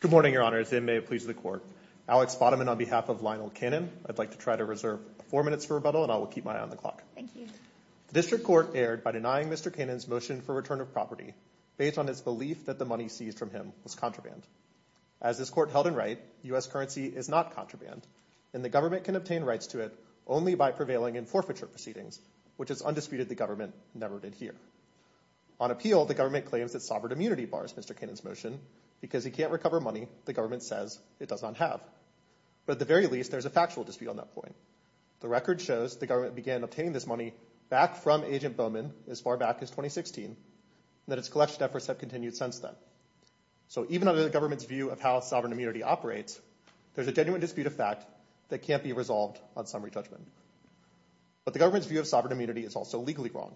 Good morning, Your Honors, and may it please the Court. Alex Bodeman on behalf of Lionel Cannon, I'd like to try to reserve four minutes for rebuttal and I will keep my eye on the clock. Thank you. The District Court erred by denying Mr. Cannon's motion for return of property based on its belief that the money seized from him was contraband. As this Court held in right, U.S. currency is not contraband and the government can obtain forfeiture proceedings, which is undisputed the government never did here. On appeal, the government claims that sovereign immunity bars Mr. Cannon's motion because he can't recover money the government says it does not have. But at the very least, there's a factual dispute on that point. The record shows the government began obtaining this money back from Agent Bowman as far back as 2016 and that its collection efforts have continued since then. So even under the government's view of how sovereign immunity operates, there's a genuine dispute of fact that can't be resolved on summary judgment. But the government's view of sovereign immunity is also legally wrong.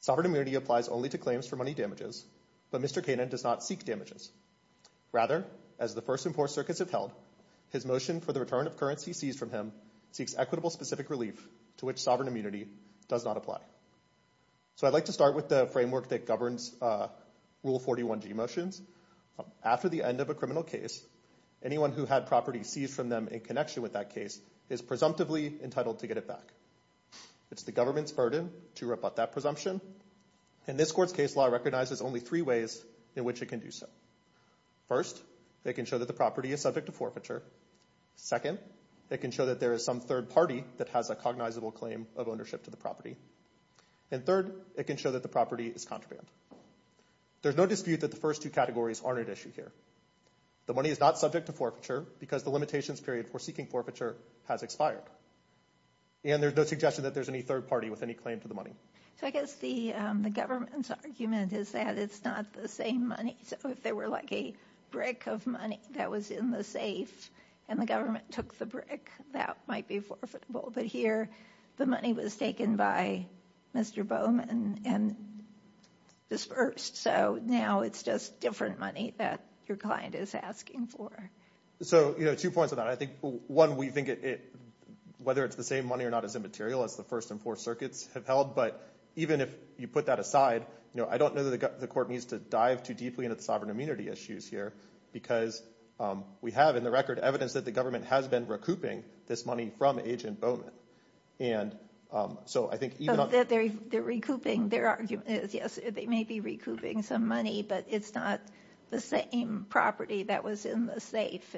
Sovereign immunity applies only to claims for money damages, but Mr. Cannon does not seek damages. Rather, as the first and fourth circuits have held, his motion for the return of currency seized from him seeks equitable specific relief to which sovereign immunity does not apply. So I'd like to start with the framework that governs Rule 41G motions. After the end of a criminal case, anyone who had property seized from them in connection with that case is presumptively entitled to get it back. It's the government's burden to rebut that presumption, and this court's case law recognizes only three ways in which it can do so. First, it can show that the property is subject to forfeiture. Second, it can show that there is some third party that has a cognizable claim of ownership to the property. And third, it can show that the property is contraband. There's no dispute that the first two categories aren't at issue here. The money is not subject to forfeiture because the limitations period for seeking forfeiture has expired. And there's no suggestion that there's any third party with any claim to the money. So I guess the government's argument is that it's not the same money, so if there were like a brick of money that was in the safe and the government took the brick, that might be forfeitable. But here, the money was taken by Mr. Bowman and disbursed. So now it's just different money that your client is asking for. So two points on that. I think, one, we think whether it's the same money or not is immaterial, as the first and fourth circuits have held. But even if you put that aside, I don't know that the court needs to dive too deeply into the sovereign immunity issues here because we have, in the record, evidence that the government has been recouping this money from Agent Bowman. And so I think even on... They're recouping. Their argument is, yes, they may be recouping some money, but it's not the same property that was in the safe.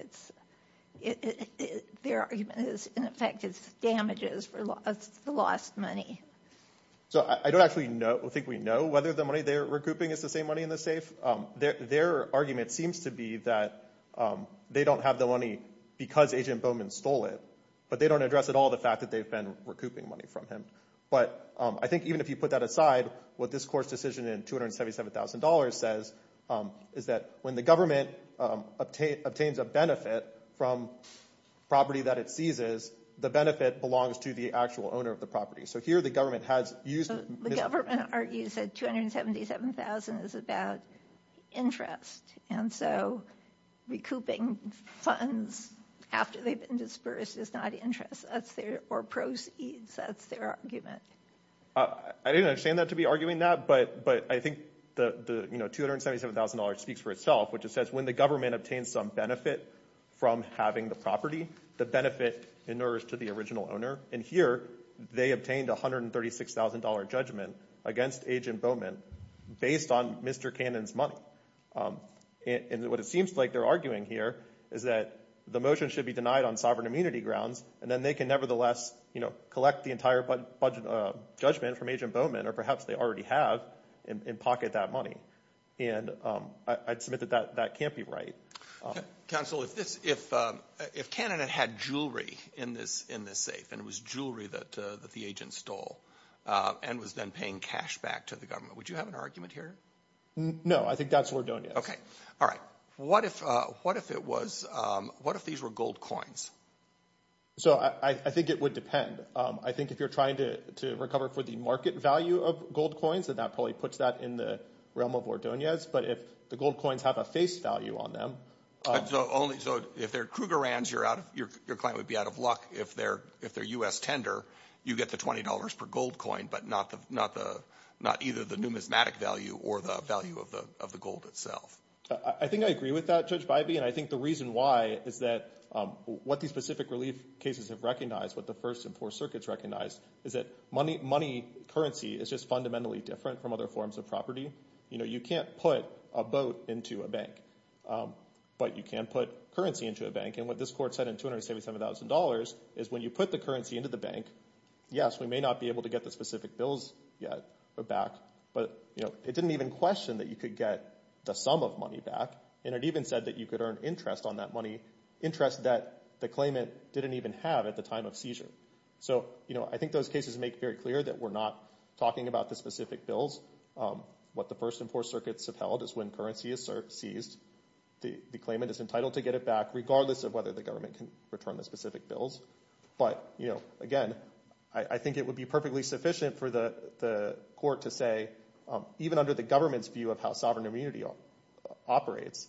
Their argument is, in effect, it's damages for the lost money. So I don't actually think we know whether the money they're recouping is the same money in the safe. Their argument seems to be that they don't have the money because Agent Bowman stole it, but they don't address at all the fact that they've been recouping money from him. But I think even if you put that aside, what this court's decision in $277,000 says is that when the government obtains a benefit from property that it seizes, the benefit belongs to the actual owner of the property. So here the government has used... The government argues that $277,000 is about interest. And so recouping funds after they've been dispersed is not interest or proceeds. That's their argument. I didn't understand that to be arguing that, but I think the $277,000 speaks for itself, which it says when the government obtains some benefit from having the property, the benefit inerts to the original owner. And here they obtained a $136,000 judgment against Agent Bowman based on Mr. Cannon's money. And what it seems like they're arguing here is that the motion should be denied on sovereign immunity grounds, and then they can nevertheless, you know, collect the entire judgment from Agent Bowman, or perhaps they already have in pocket that money. And I'd submit that that can't be right. Counsel, if Cannon had had jewelry in this safe, and it was jewelry that the agent stole, and was then paying cash back to the government, would you have an argument here? No, I think that's Ordonez. Okay. All right. What if it was... What if these were gold coins? So I think it would depend. I think if you're trying to recover for the market value of gold coins, then that probably puts that in the realm of Ordonez. But if the gold coins have a face value on them... So if they're Krugerrands, your client would be out of luck if they're U.S. tender. You get the $20 per gold coin, but not either the numismatic value or the value of the gold itself. I think I agree with that, Judge Bybee. And I think the reason why is that what these specific relief cases have recognized, what the First and Fourth Circuits recognized, is that money currency is just fundamentally different from other forms of property. You can't put a boat into a bank, but you can put currency into a bank. And what this court said in $277,000 is when you put the currency into the bank, yes, we may not be able to get the specific bills back, but it didn't even question that you could get the sum of money back. And it even said that you could earn interest on that money, interest that the claimant didn't even have at the time of seizure. So I think those cases make very clear that we're not talking about the specific bills. What the First and Fourth Circuits have held is when currency is seized, the claimant is entitled to get it back regardless of whether the government can return the specific bills. But again, I think it would be perfectly sufficient for the court to say, even under the government's view of how sovereign immunity operates,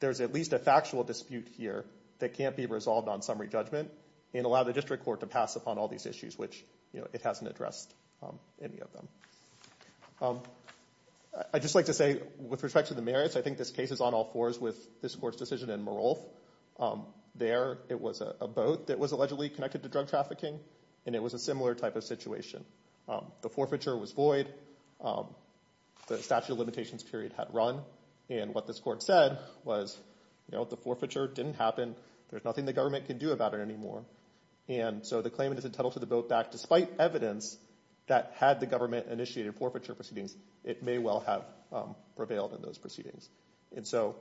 there's at least a factual dispute here that can't be resolved on summary judgment and allow the district court to pass upon all these issues, which it hasn't addressed any of them. I'd just like to say, with respect to the merits, I think this case is on all fours with this court's decision in Merolth. There, it was a boat that was allegedly connected to drug trafficking, and it was a similar type of situation. The forfeiture was void, the statute of limitations period had run, and what this court said was the forfeiture didn't happen, there's nothing the government can do about it anymore. And so the claimant is entitled to the boat back despite evidence that had the government initiated forfeiture proceedings, it may well have prevailed in those proceedings. And so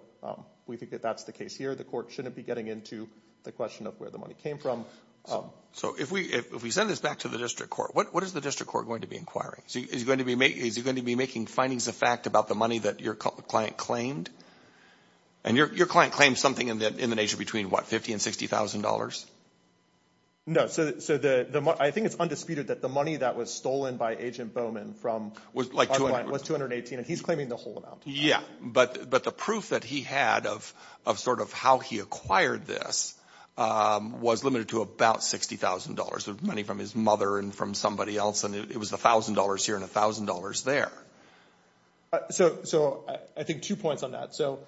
we think that that's the case here. The court shouldn't be getting into the question of where the money came from. So if we send this back to the district court, what is the district court going to be inquiring? Is it going to be making findings of fact about the money that your client claimed? And your client claimed something in the nature of between, what, $50,000 and $60,000? No, so I think it's undisputed that the money that was stolen by Agent Bowman from our client was $218,000, and he's claiming the whole amount. Yeah, but the proof that he had of sort of how he acquired this was limited to about $60,000, money from his mother and from somebody else, and it was $1,000 here and $1,000 there. So I think two points on that. So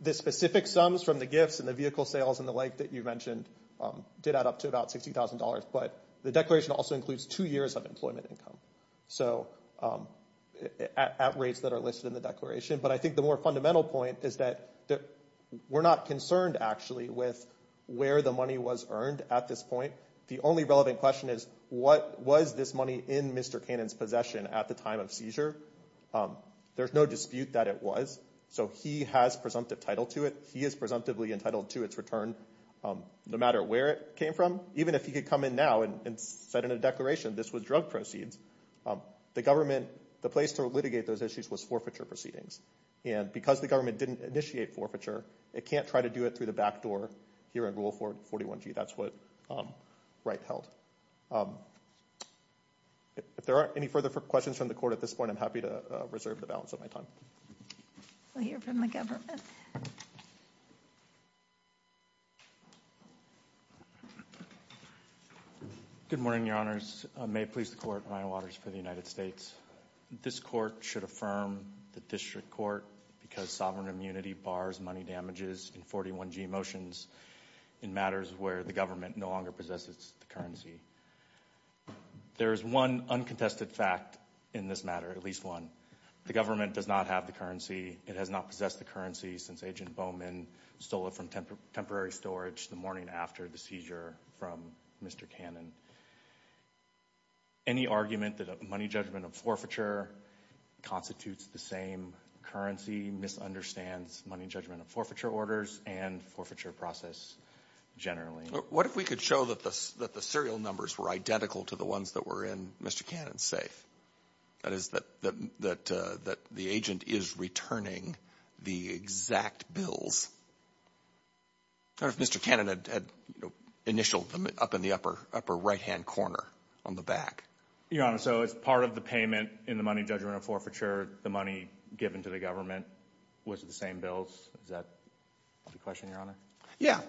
the specific sums from the gifts and the vehicle sales and the like that you mentioned did add up to about $60,000, but the declaration also includes two years of employment income, so at rates that are listed in the declaration. But I think the more fundamental point is that we're not concerned, actually, with where the money was earned at this point. The only relevant question is what was this money in Mr. Cannon's possession at the time of seizure? There's no dispute that it was, so he has presumptive title to it. He is presumptively entitled to its return no matter where it came from. Even if he could come in now and set in a declaration this was drug proceeds, the government, the place to litigate those issues was forfeiture proceedings. And because the government didn't initiate forfeiture, it can't try to do it through the back door here in Rule 41G, that's what Wright held. If there aren't any further questions from the court at this point, I'm happy to reserve the balance of my time. We'll hear from the government. Good morning, Your Honors. May it please the Court, Ryan Waters for the United States. This court should affirm the district court because sovereign immunity bars money damages in 41G motions in matters where the government no longer possesses the currency. There is one uncontested fact in this matter, at least one. The government does not have the currency. It has not possessed the currency since Agent Bowman stole it from temporary storage the morning after the seizure from Mr. Cannon. And any argument that a money judgment of forfeiture constitutes the same currency misunderstands money judgment of forfeiture orders and forfeiture process generally. What if we could show that the serial numbers were identical to the ones that were in Mr. Cannon's safe? That is, that the agent is returning the exact bills. What if Mr. Cannon had initialed them up in the upper right-hand corner on the back? Your Honor, so as part of the payment in the money judgment of forfeiture, the money given to the government was the same bills? Is that the question, Your Honor? Yeah.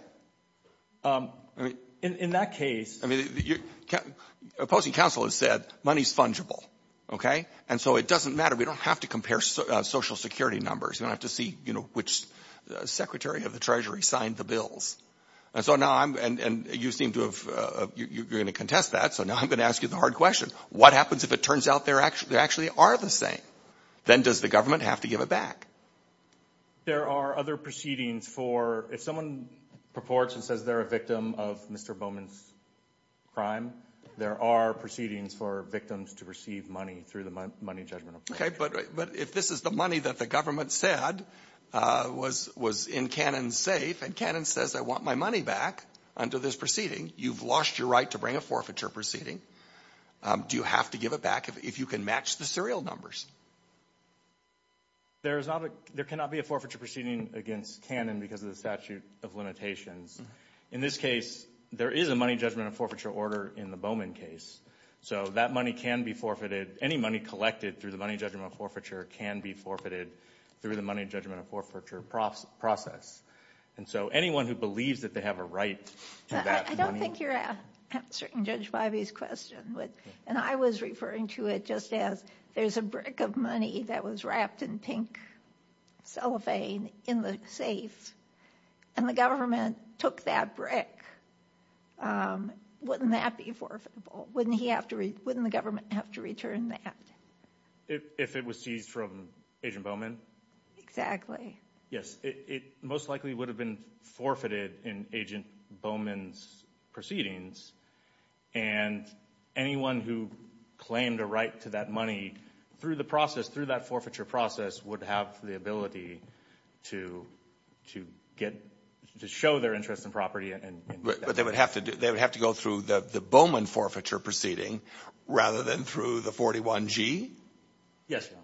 In that case – Opposing counsel has said money is fungible, okay? And so it doesn't matter. We don't have to compare Social Security numbers. We don't have to see, you know, which Secretary of the Treasury signed the bills. And so now I'm – and you seem to have – you're going to contest that. So now I'm going to ask you the hard question. What happens if it turns out they actually are the same? Then does the government have to give it back? There are other proceedings for – if someone purports and says they're a victim of Mr. Bowman's crime, there are proceedings for victims to receive money through the money judgment of forfeiture. Okay, but if this is the money that the government said was in Cannon's safe and Cannon says I want my money back under this proceeding, you've lost your right to bring a forfeiture proceeding. Do you have to give it back if you can match the serial numbers? There is not a – there cannot be a forfeiture proceeding against Cannon because of the statute of limitations. In this case, there is a money judgment of forfeiture order in the Bowman case. So that money can be forfeited. Any money collected through the money judgment of forfeiture can be forfeited through the money judgment of forfeiture process. And so anyone who believes that they have a right to that money – I don't think you're answering Judge Bivey's question. And I was referring to it just as there's a brick of money that was wrapped in pink cellophane in the safe, and the government took that brick. Wouldn't that be forfeitable? Wouldn't he have to – wouldn't the government have to return that? If it was seized from Agent Bowman? Exactly. Yes, it most likely would have been forfeited in Agent Bowman's proceedings. And anyone who claimed a right to that money through the process, through that forfeiture process, would have the ability to get – to show their interest in property. But they would have to go through the Bowman forfeiture proceeding rather than through the 41G? Yes, Your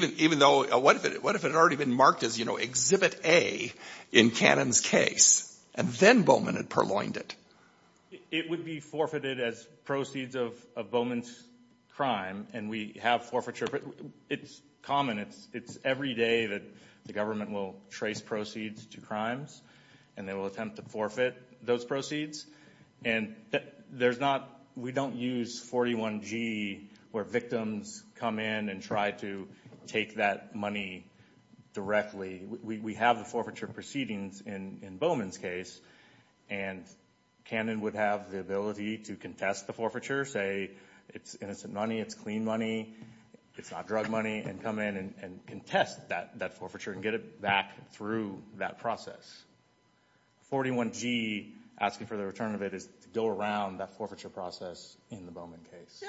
Honor. Even though – what if it had already been marked as, you know, Exhibit A in Cannon's case, and then Bowman had purloined it? It would be forfeited as proceeds of Bowman's crime, and we have forfeiture – it's common. It's every day that the government will trace proceeds to crimes, and they will attempt to forfeit those proceeds. And there's not – we don't use 41G where victims come in and try to take that money directly. We have the forfeiture proceedings in Bowman's case, and Cannon would have the ability to contest the forfeiture, say it's innocent money, it's clean money, it's not drug money, and come in and contest that forfeiture and get it back through that process. 41G, asking for the return of it, is to go around that forfeiture process in the Bowman case.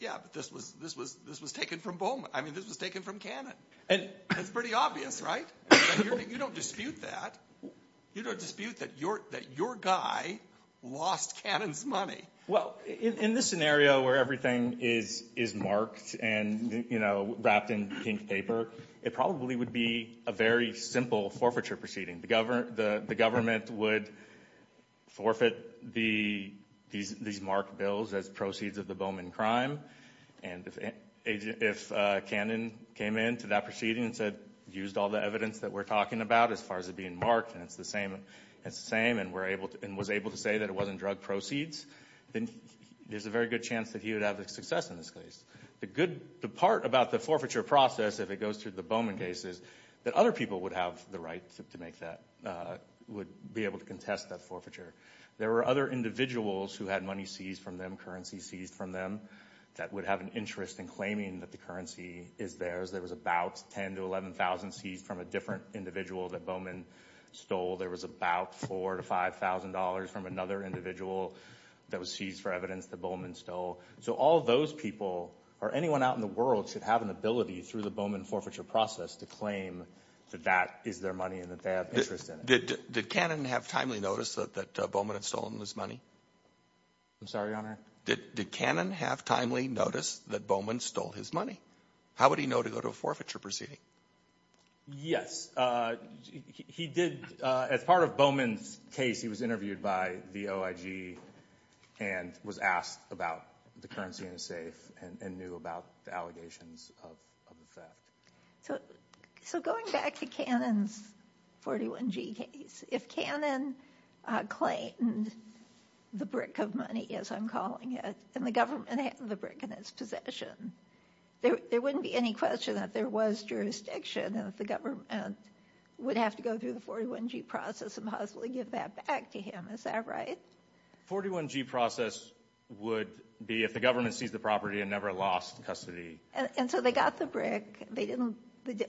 Yeah, but this was taken from Bowman. I mean, this was taken from Cannon. It's pretty obvious, right? You don't dispute that. You don't dispute that your guy lost Cannon's money. Well, in this scenario where everything is marked and, you know, wrapped in pink paper, it probably would be a very simple forfeiture proceeding. The government would forfeit these marked bills as proceeds of the Bowman crime, and if Cannon came in to that proceeding and said, used all the evidence that we're talking about as far as it being marked and it's the same and was able to say that it wasn't drug proceeds, then there's a very good chance that he would have success in this case. The part about the forfeiture process, if it goes through the Bowman case, is that other people would have the right to make that, would be able to contest that forfeiture. There were other individuals who had money seized from them, currency seized from them, that would have an interest in claiming that the currency is theirs. There was about $10,000 to $11,000 seized from a different individual that Bowman stole. There was about $4,000 to $5,000 from another individual that was seized for evidence that Bowman stole. So all those people or anyone out in the world should have an ability through the Bowman forfeiture process to claim that that is their money and that they have interest in it. Did Cannon have timely notice that Bowman had stolen his money? I'm sorry, Your Honor? Did Cannon have timely notice that Bowman stole his money? How would he know to go to a forfeiture proceeding? Yes, he did. As part of Bowman's case, he was interviewed by the OIG and was asked about the currency in his safe and knew about the allegations of the theft. So going back to Cannon's 41G case, if Cannon claimed the brick of money, as I'm calling it, and the government had the brick in its possession, there wouldn't be any question that there was jurisdiction and that the government would have to go through the 41G process and possibly give that back to him. Is that right? The 41G process would be if the government seized the property and never lost custody. And so they got the brick.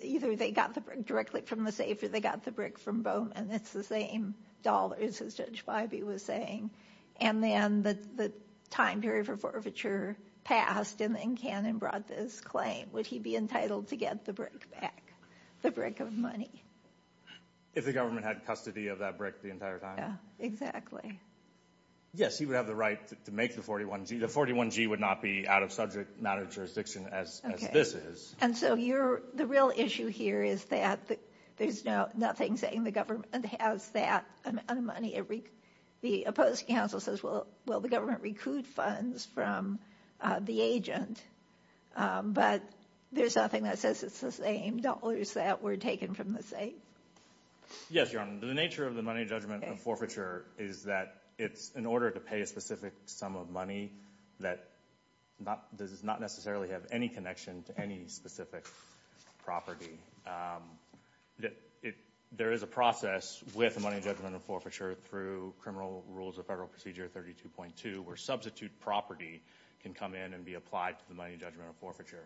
Either they got the brick directly from the safe or they got the brick from Bowman. It's the same dollars, as Judge Bybee was saying. And then the time period for forfeiture passed, and then Cannon brought this claim. Would he be entitled to get the brick back, the brick of money? If the government had custody of that brick the entire time? Yeah, exactly. Yes, he would have the right to make the 41G. The 41G would not be out of subject matter jurisdiction as this is. And so the real issue here is that there's nothing saying the government has that amount of money. The opposing counsel says, well, will the government recoup funds from the agent? But there's nothing that says it's the same dollars that were taken from the safe. Yes, Your Honor. The nature of the money judgment of forfeiture is that it's in order to pay a specific sum of money that does not necessarily have any connection to any specific property. There is a process with the money judgment of forfeiture through Criminal Rules of Federal Procedure 32.2 where substitute property can come in and be applied to the money judgment of forfeiture.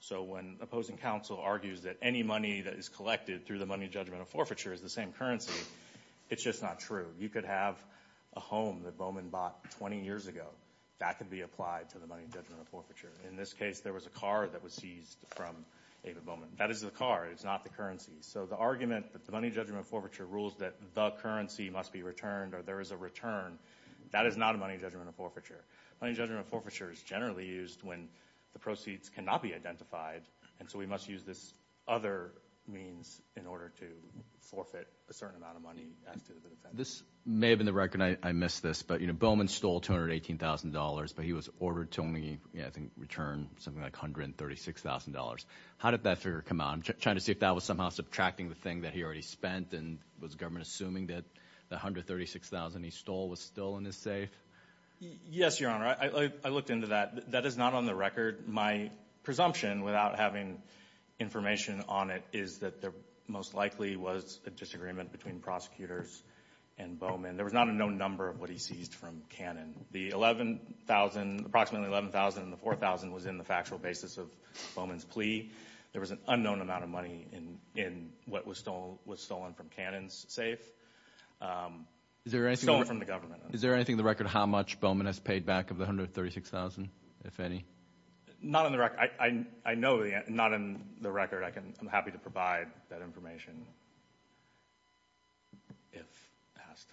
So when opposing counsel argues that any money that is collected through the money judgment of forfeiture is the same currency, it's just not true. You could have a home that Bowman bought 20 years ago. That could be applied to the money judgment of forfeiture. In this case, there was a car that was seized from Ava Bowman. That is the car. It's not the currency. So the argument that the money judgment of forfeiture rules that the currency must be returned or there is a return, that is not a money judgment of forfeiture. Money judgment of forfeiture is generally used when the proceeds cannot be identified, and so we must use this other means in order to forfeit a certain amount of money. This may have been the record. I missed this, but Bowman stole $218,000, but he was ordered to only, I think, return something like $136,000. How did that figure come out? I'm trying to see if that was somehow subtracting the thing that he already spent, and was government assuming that the $136,000 he stole was still in his safe? Yes, Your Honor. I looked into that. That is not on the record. My presumption, without having information on it, is that there most likely was a disagreement between prosecutors and Bowman. There was not a known number of what he seized from Cannon. The $11,000, approximately $11,000, and the $4,000 was in the factual basis of Bowman's plea. There was an unknown amount of money in what was stolen from Cannon's safe, stolen from the government. Is there anything in the record how much Bowman has paid back of the $136,000, if any? Not on the record. I know not on the record. I'm happy to provide that information if asked.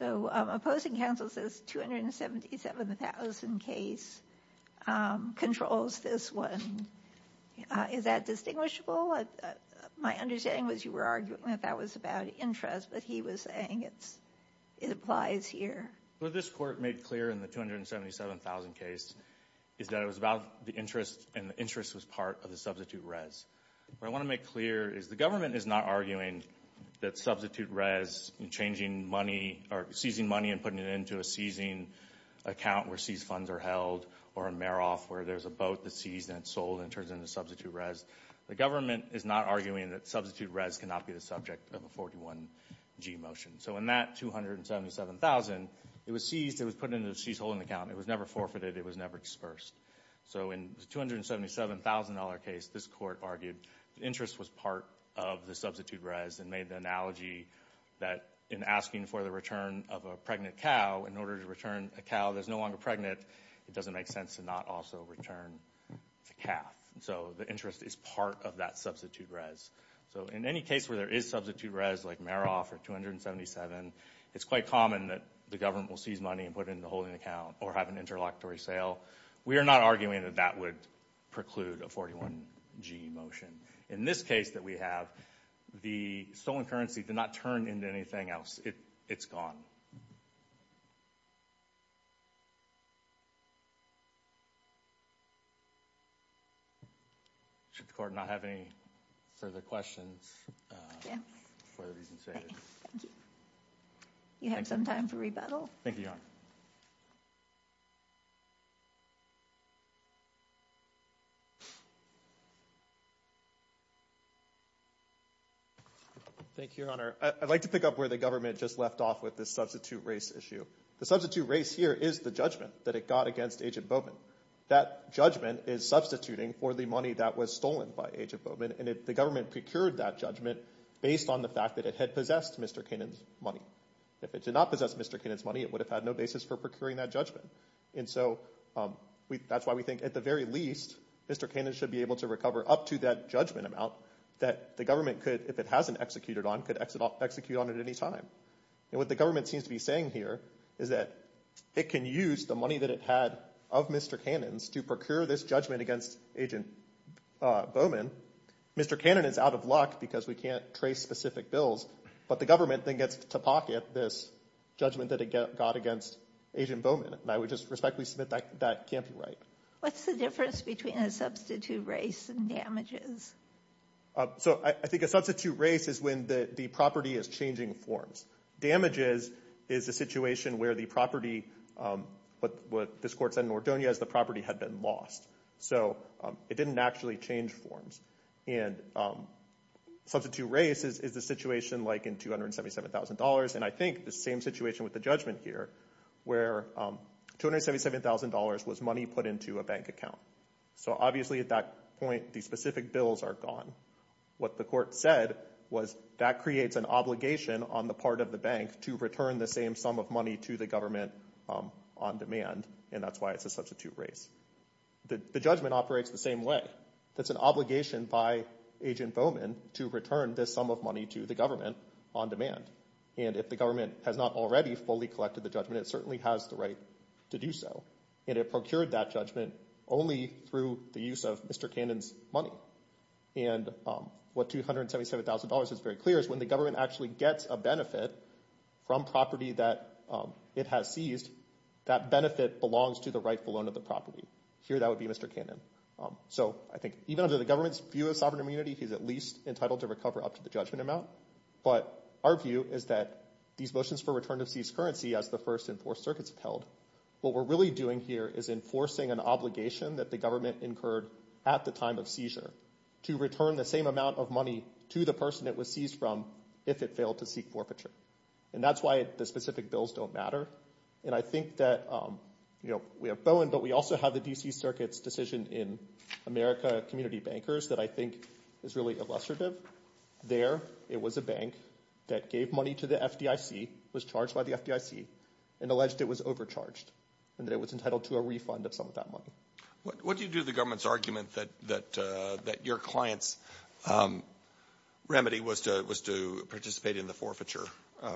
Opposing counsel says $277,000 case controls this one. Is that distinguishable? My understanding was you were arguing that that was about interest, but he was saying it applies here. What this court made clear in the $277,000 case is that it was about the interest, and the interest was part of the substitute res. What I want to make clear is the government is not arguing that substitute res, and changing money, or seizing money and putting it into a seizing account where seized funds are held, or a Meroff where there's a boat that's seized and it's sold and it turns into substitute res. The government is not arguing that substitute res cannot be the subject of a 41G motion. In that $277,000, it was seized. It was put into a seized holding account. It was never forfeited. It was never dispersed. In the $277,000 case, this court argued the interest was part of the substitute res and made the analogy that in asking for the return of a pregnant cow, in order to return a cow that's no longer pregnant, it doesn't make sense to not also return the calf. The interest is part of that substitute res. So in any case where there is substitute res like Meroff or $277,000, it's quite common that the government will seize money and put it into a holding account or have an interlocutory sale. We are not arguing that that would preclude a 41G motion. In this case that we have, the stolen currency did not turn into anything else. It's gone. Thank you. Should the court not have any further questions for the reasons stated? Thank you. You have some time for rebuttal. Thank you, Your Honor. Thank you, Your Honor. I'd like to pick up where the government just left off with this substitute res issue. The substitute res here is the judgment that it got against Agent Bowman. That judgment is substituting for the money that was stolen by Agent Bowman, and the government procured that judgment based on the fact that it had possessed Mr. Kainan's money. If it did not possess Mr. Kainan's money, it would have had no basis for procuring that judgment. And so that's why we think at the very least Mr. Kainan should be able to recover up to that judgment amount that the government could, if it hasn't executed on, could execute on at any time. And what the government seems to be saying here is that it can use the money that it had of Mr. Kainan's to procure this judgment against Agent Bowman. Mr. Kainan is out of luck because we can't trace specific bills, but the government then gets to pocket this judgment that it got against Agent Bowman. And I would just respectfully submit that can't be right. What's the difference between a substitute race and damages? So I think a substitute race is when the property is changing forms. Damages is a situation where the property, what this court said in Ordonez, the property had been lost. So it didn't actually change forms. And substitute race is a situation like in $277,000, and I think the same situation with the judgment here where $277,000 was money put into a bank account. So obviously at that point the specific bills are gone. What the court said was that creates an obligation on the part of the bank to return the same sum of money to the government on demand, and that's why it's a substitute race. The judgment operates the same way. That's an obligation by Agent Bowman to return this sum of money to the government on demand. And if the government has not already fully collected the judgment, it certainly has the right to do so. And it procured that judgment only through the use of Mr. Kainan's money. And what $277,000 is very clear is when the government actually gets a benefit from property that it has seized, that benefit belongs to the rightful owner of the property. Here that would be Mr. Kainan. So I think even under the government's view of sovereign immunity, he's at least entitled to recover up to the judgment amount. But our view is that these motions for return of seized currency as the First and Fourth Circuits have held, what we're really doing here is enforcing an obligation that the government incurred at the time of seizure to return the same amount of money to the person it was seized from if it failed to seek forfeiture. And that's why the specific bills don't matter. And I think that we have Bowman, but we also have the D.C. Circuit's decision in America Community Bankers that I think is really illustrative. There it was a bank that gave money to the FDIC, was charged by the FDIC, and alleged it was overcharged and that it was entitled to a refund of some of that money. What do you do to the government's argument that your client's remedy was to participate in the forfeiture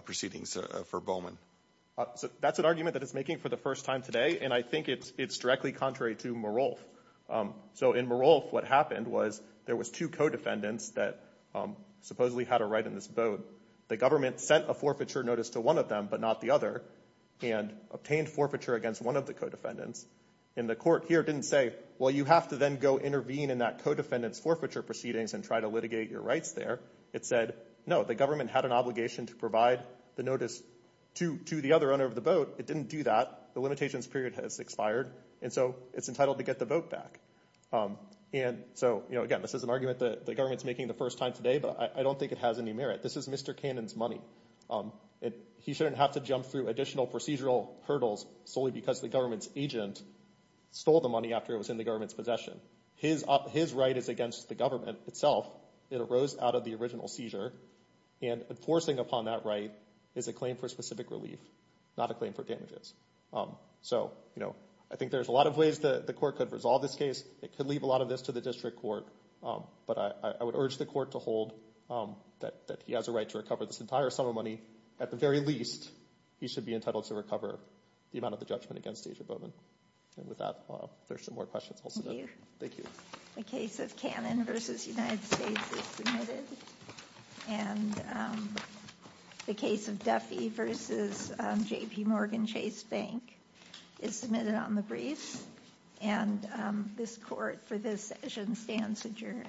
proceedings for Bowman? That's an argument that it's making for the first time today, and I think it's directly contrary to Merolf. So in Merolf, what happened was there was two co-defendants that supposedly had a right in this boat. The government sent a forfeiture notice to one of them, but not the other, and obtained forfeiture against one of the co-defendants. And the court here didn't say, well, you have to then go intervene in that co-defendant's forfeiture proceedings and try to litigate your rights there. It said, no, the government had an obligation to provide the notice to the other owner of the boat. It didn't do that. The limitations period has expired, and so it's entitled to get the boat back. And so, again, this is an argument that the government's making the first time today, but I don't think it has any merit. This is Mr. Cannon's money. He shouldn't have to jump through additional procedural hurdles solely because the government's agent stole the money after it was in the government's possession. His right is against the government itself. It arose out of the original seizure, and enforcing upon that right is a claim for specific relief, not a claim for damages. So, you know, I think there's a lot of ways the court could resolve this case. It could leave a lot of this to the district court, but I would urge the court to hold that he has a right to recover this entire sum of money. At the very least, he should be entitled to recover the amount of the judgment against Aja Bowman. And with that, there's some more questions. Thank you. The case of Cannon v. United States is submitted. And the case of Duffy v. J.P. Morgan Chase Bank is submitted on the brief. And this court for this session stands adjourned.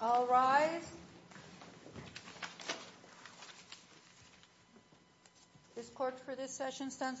All rise. This court for this session stands adjourned.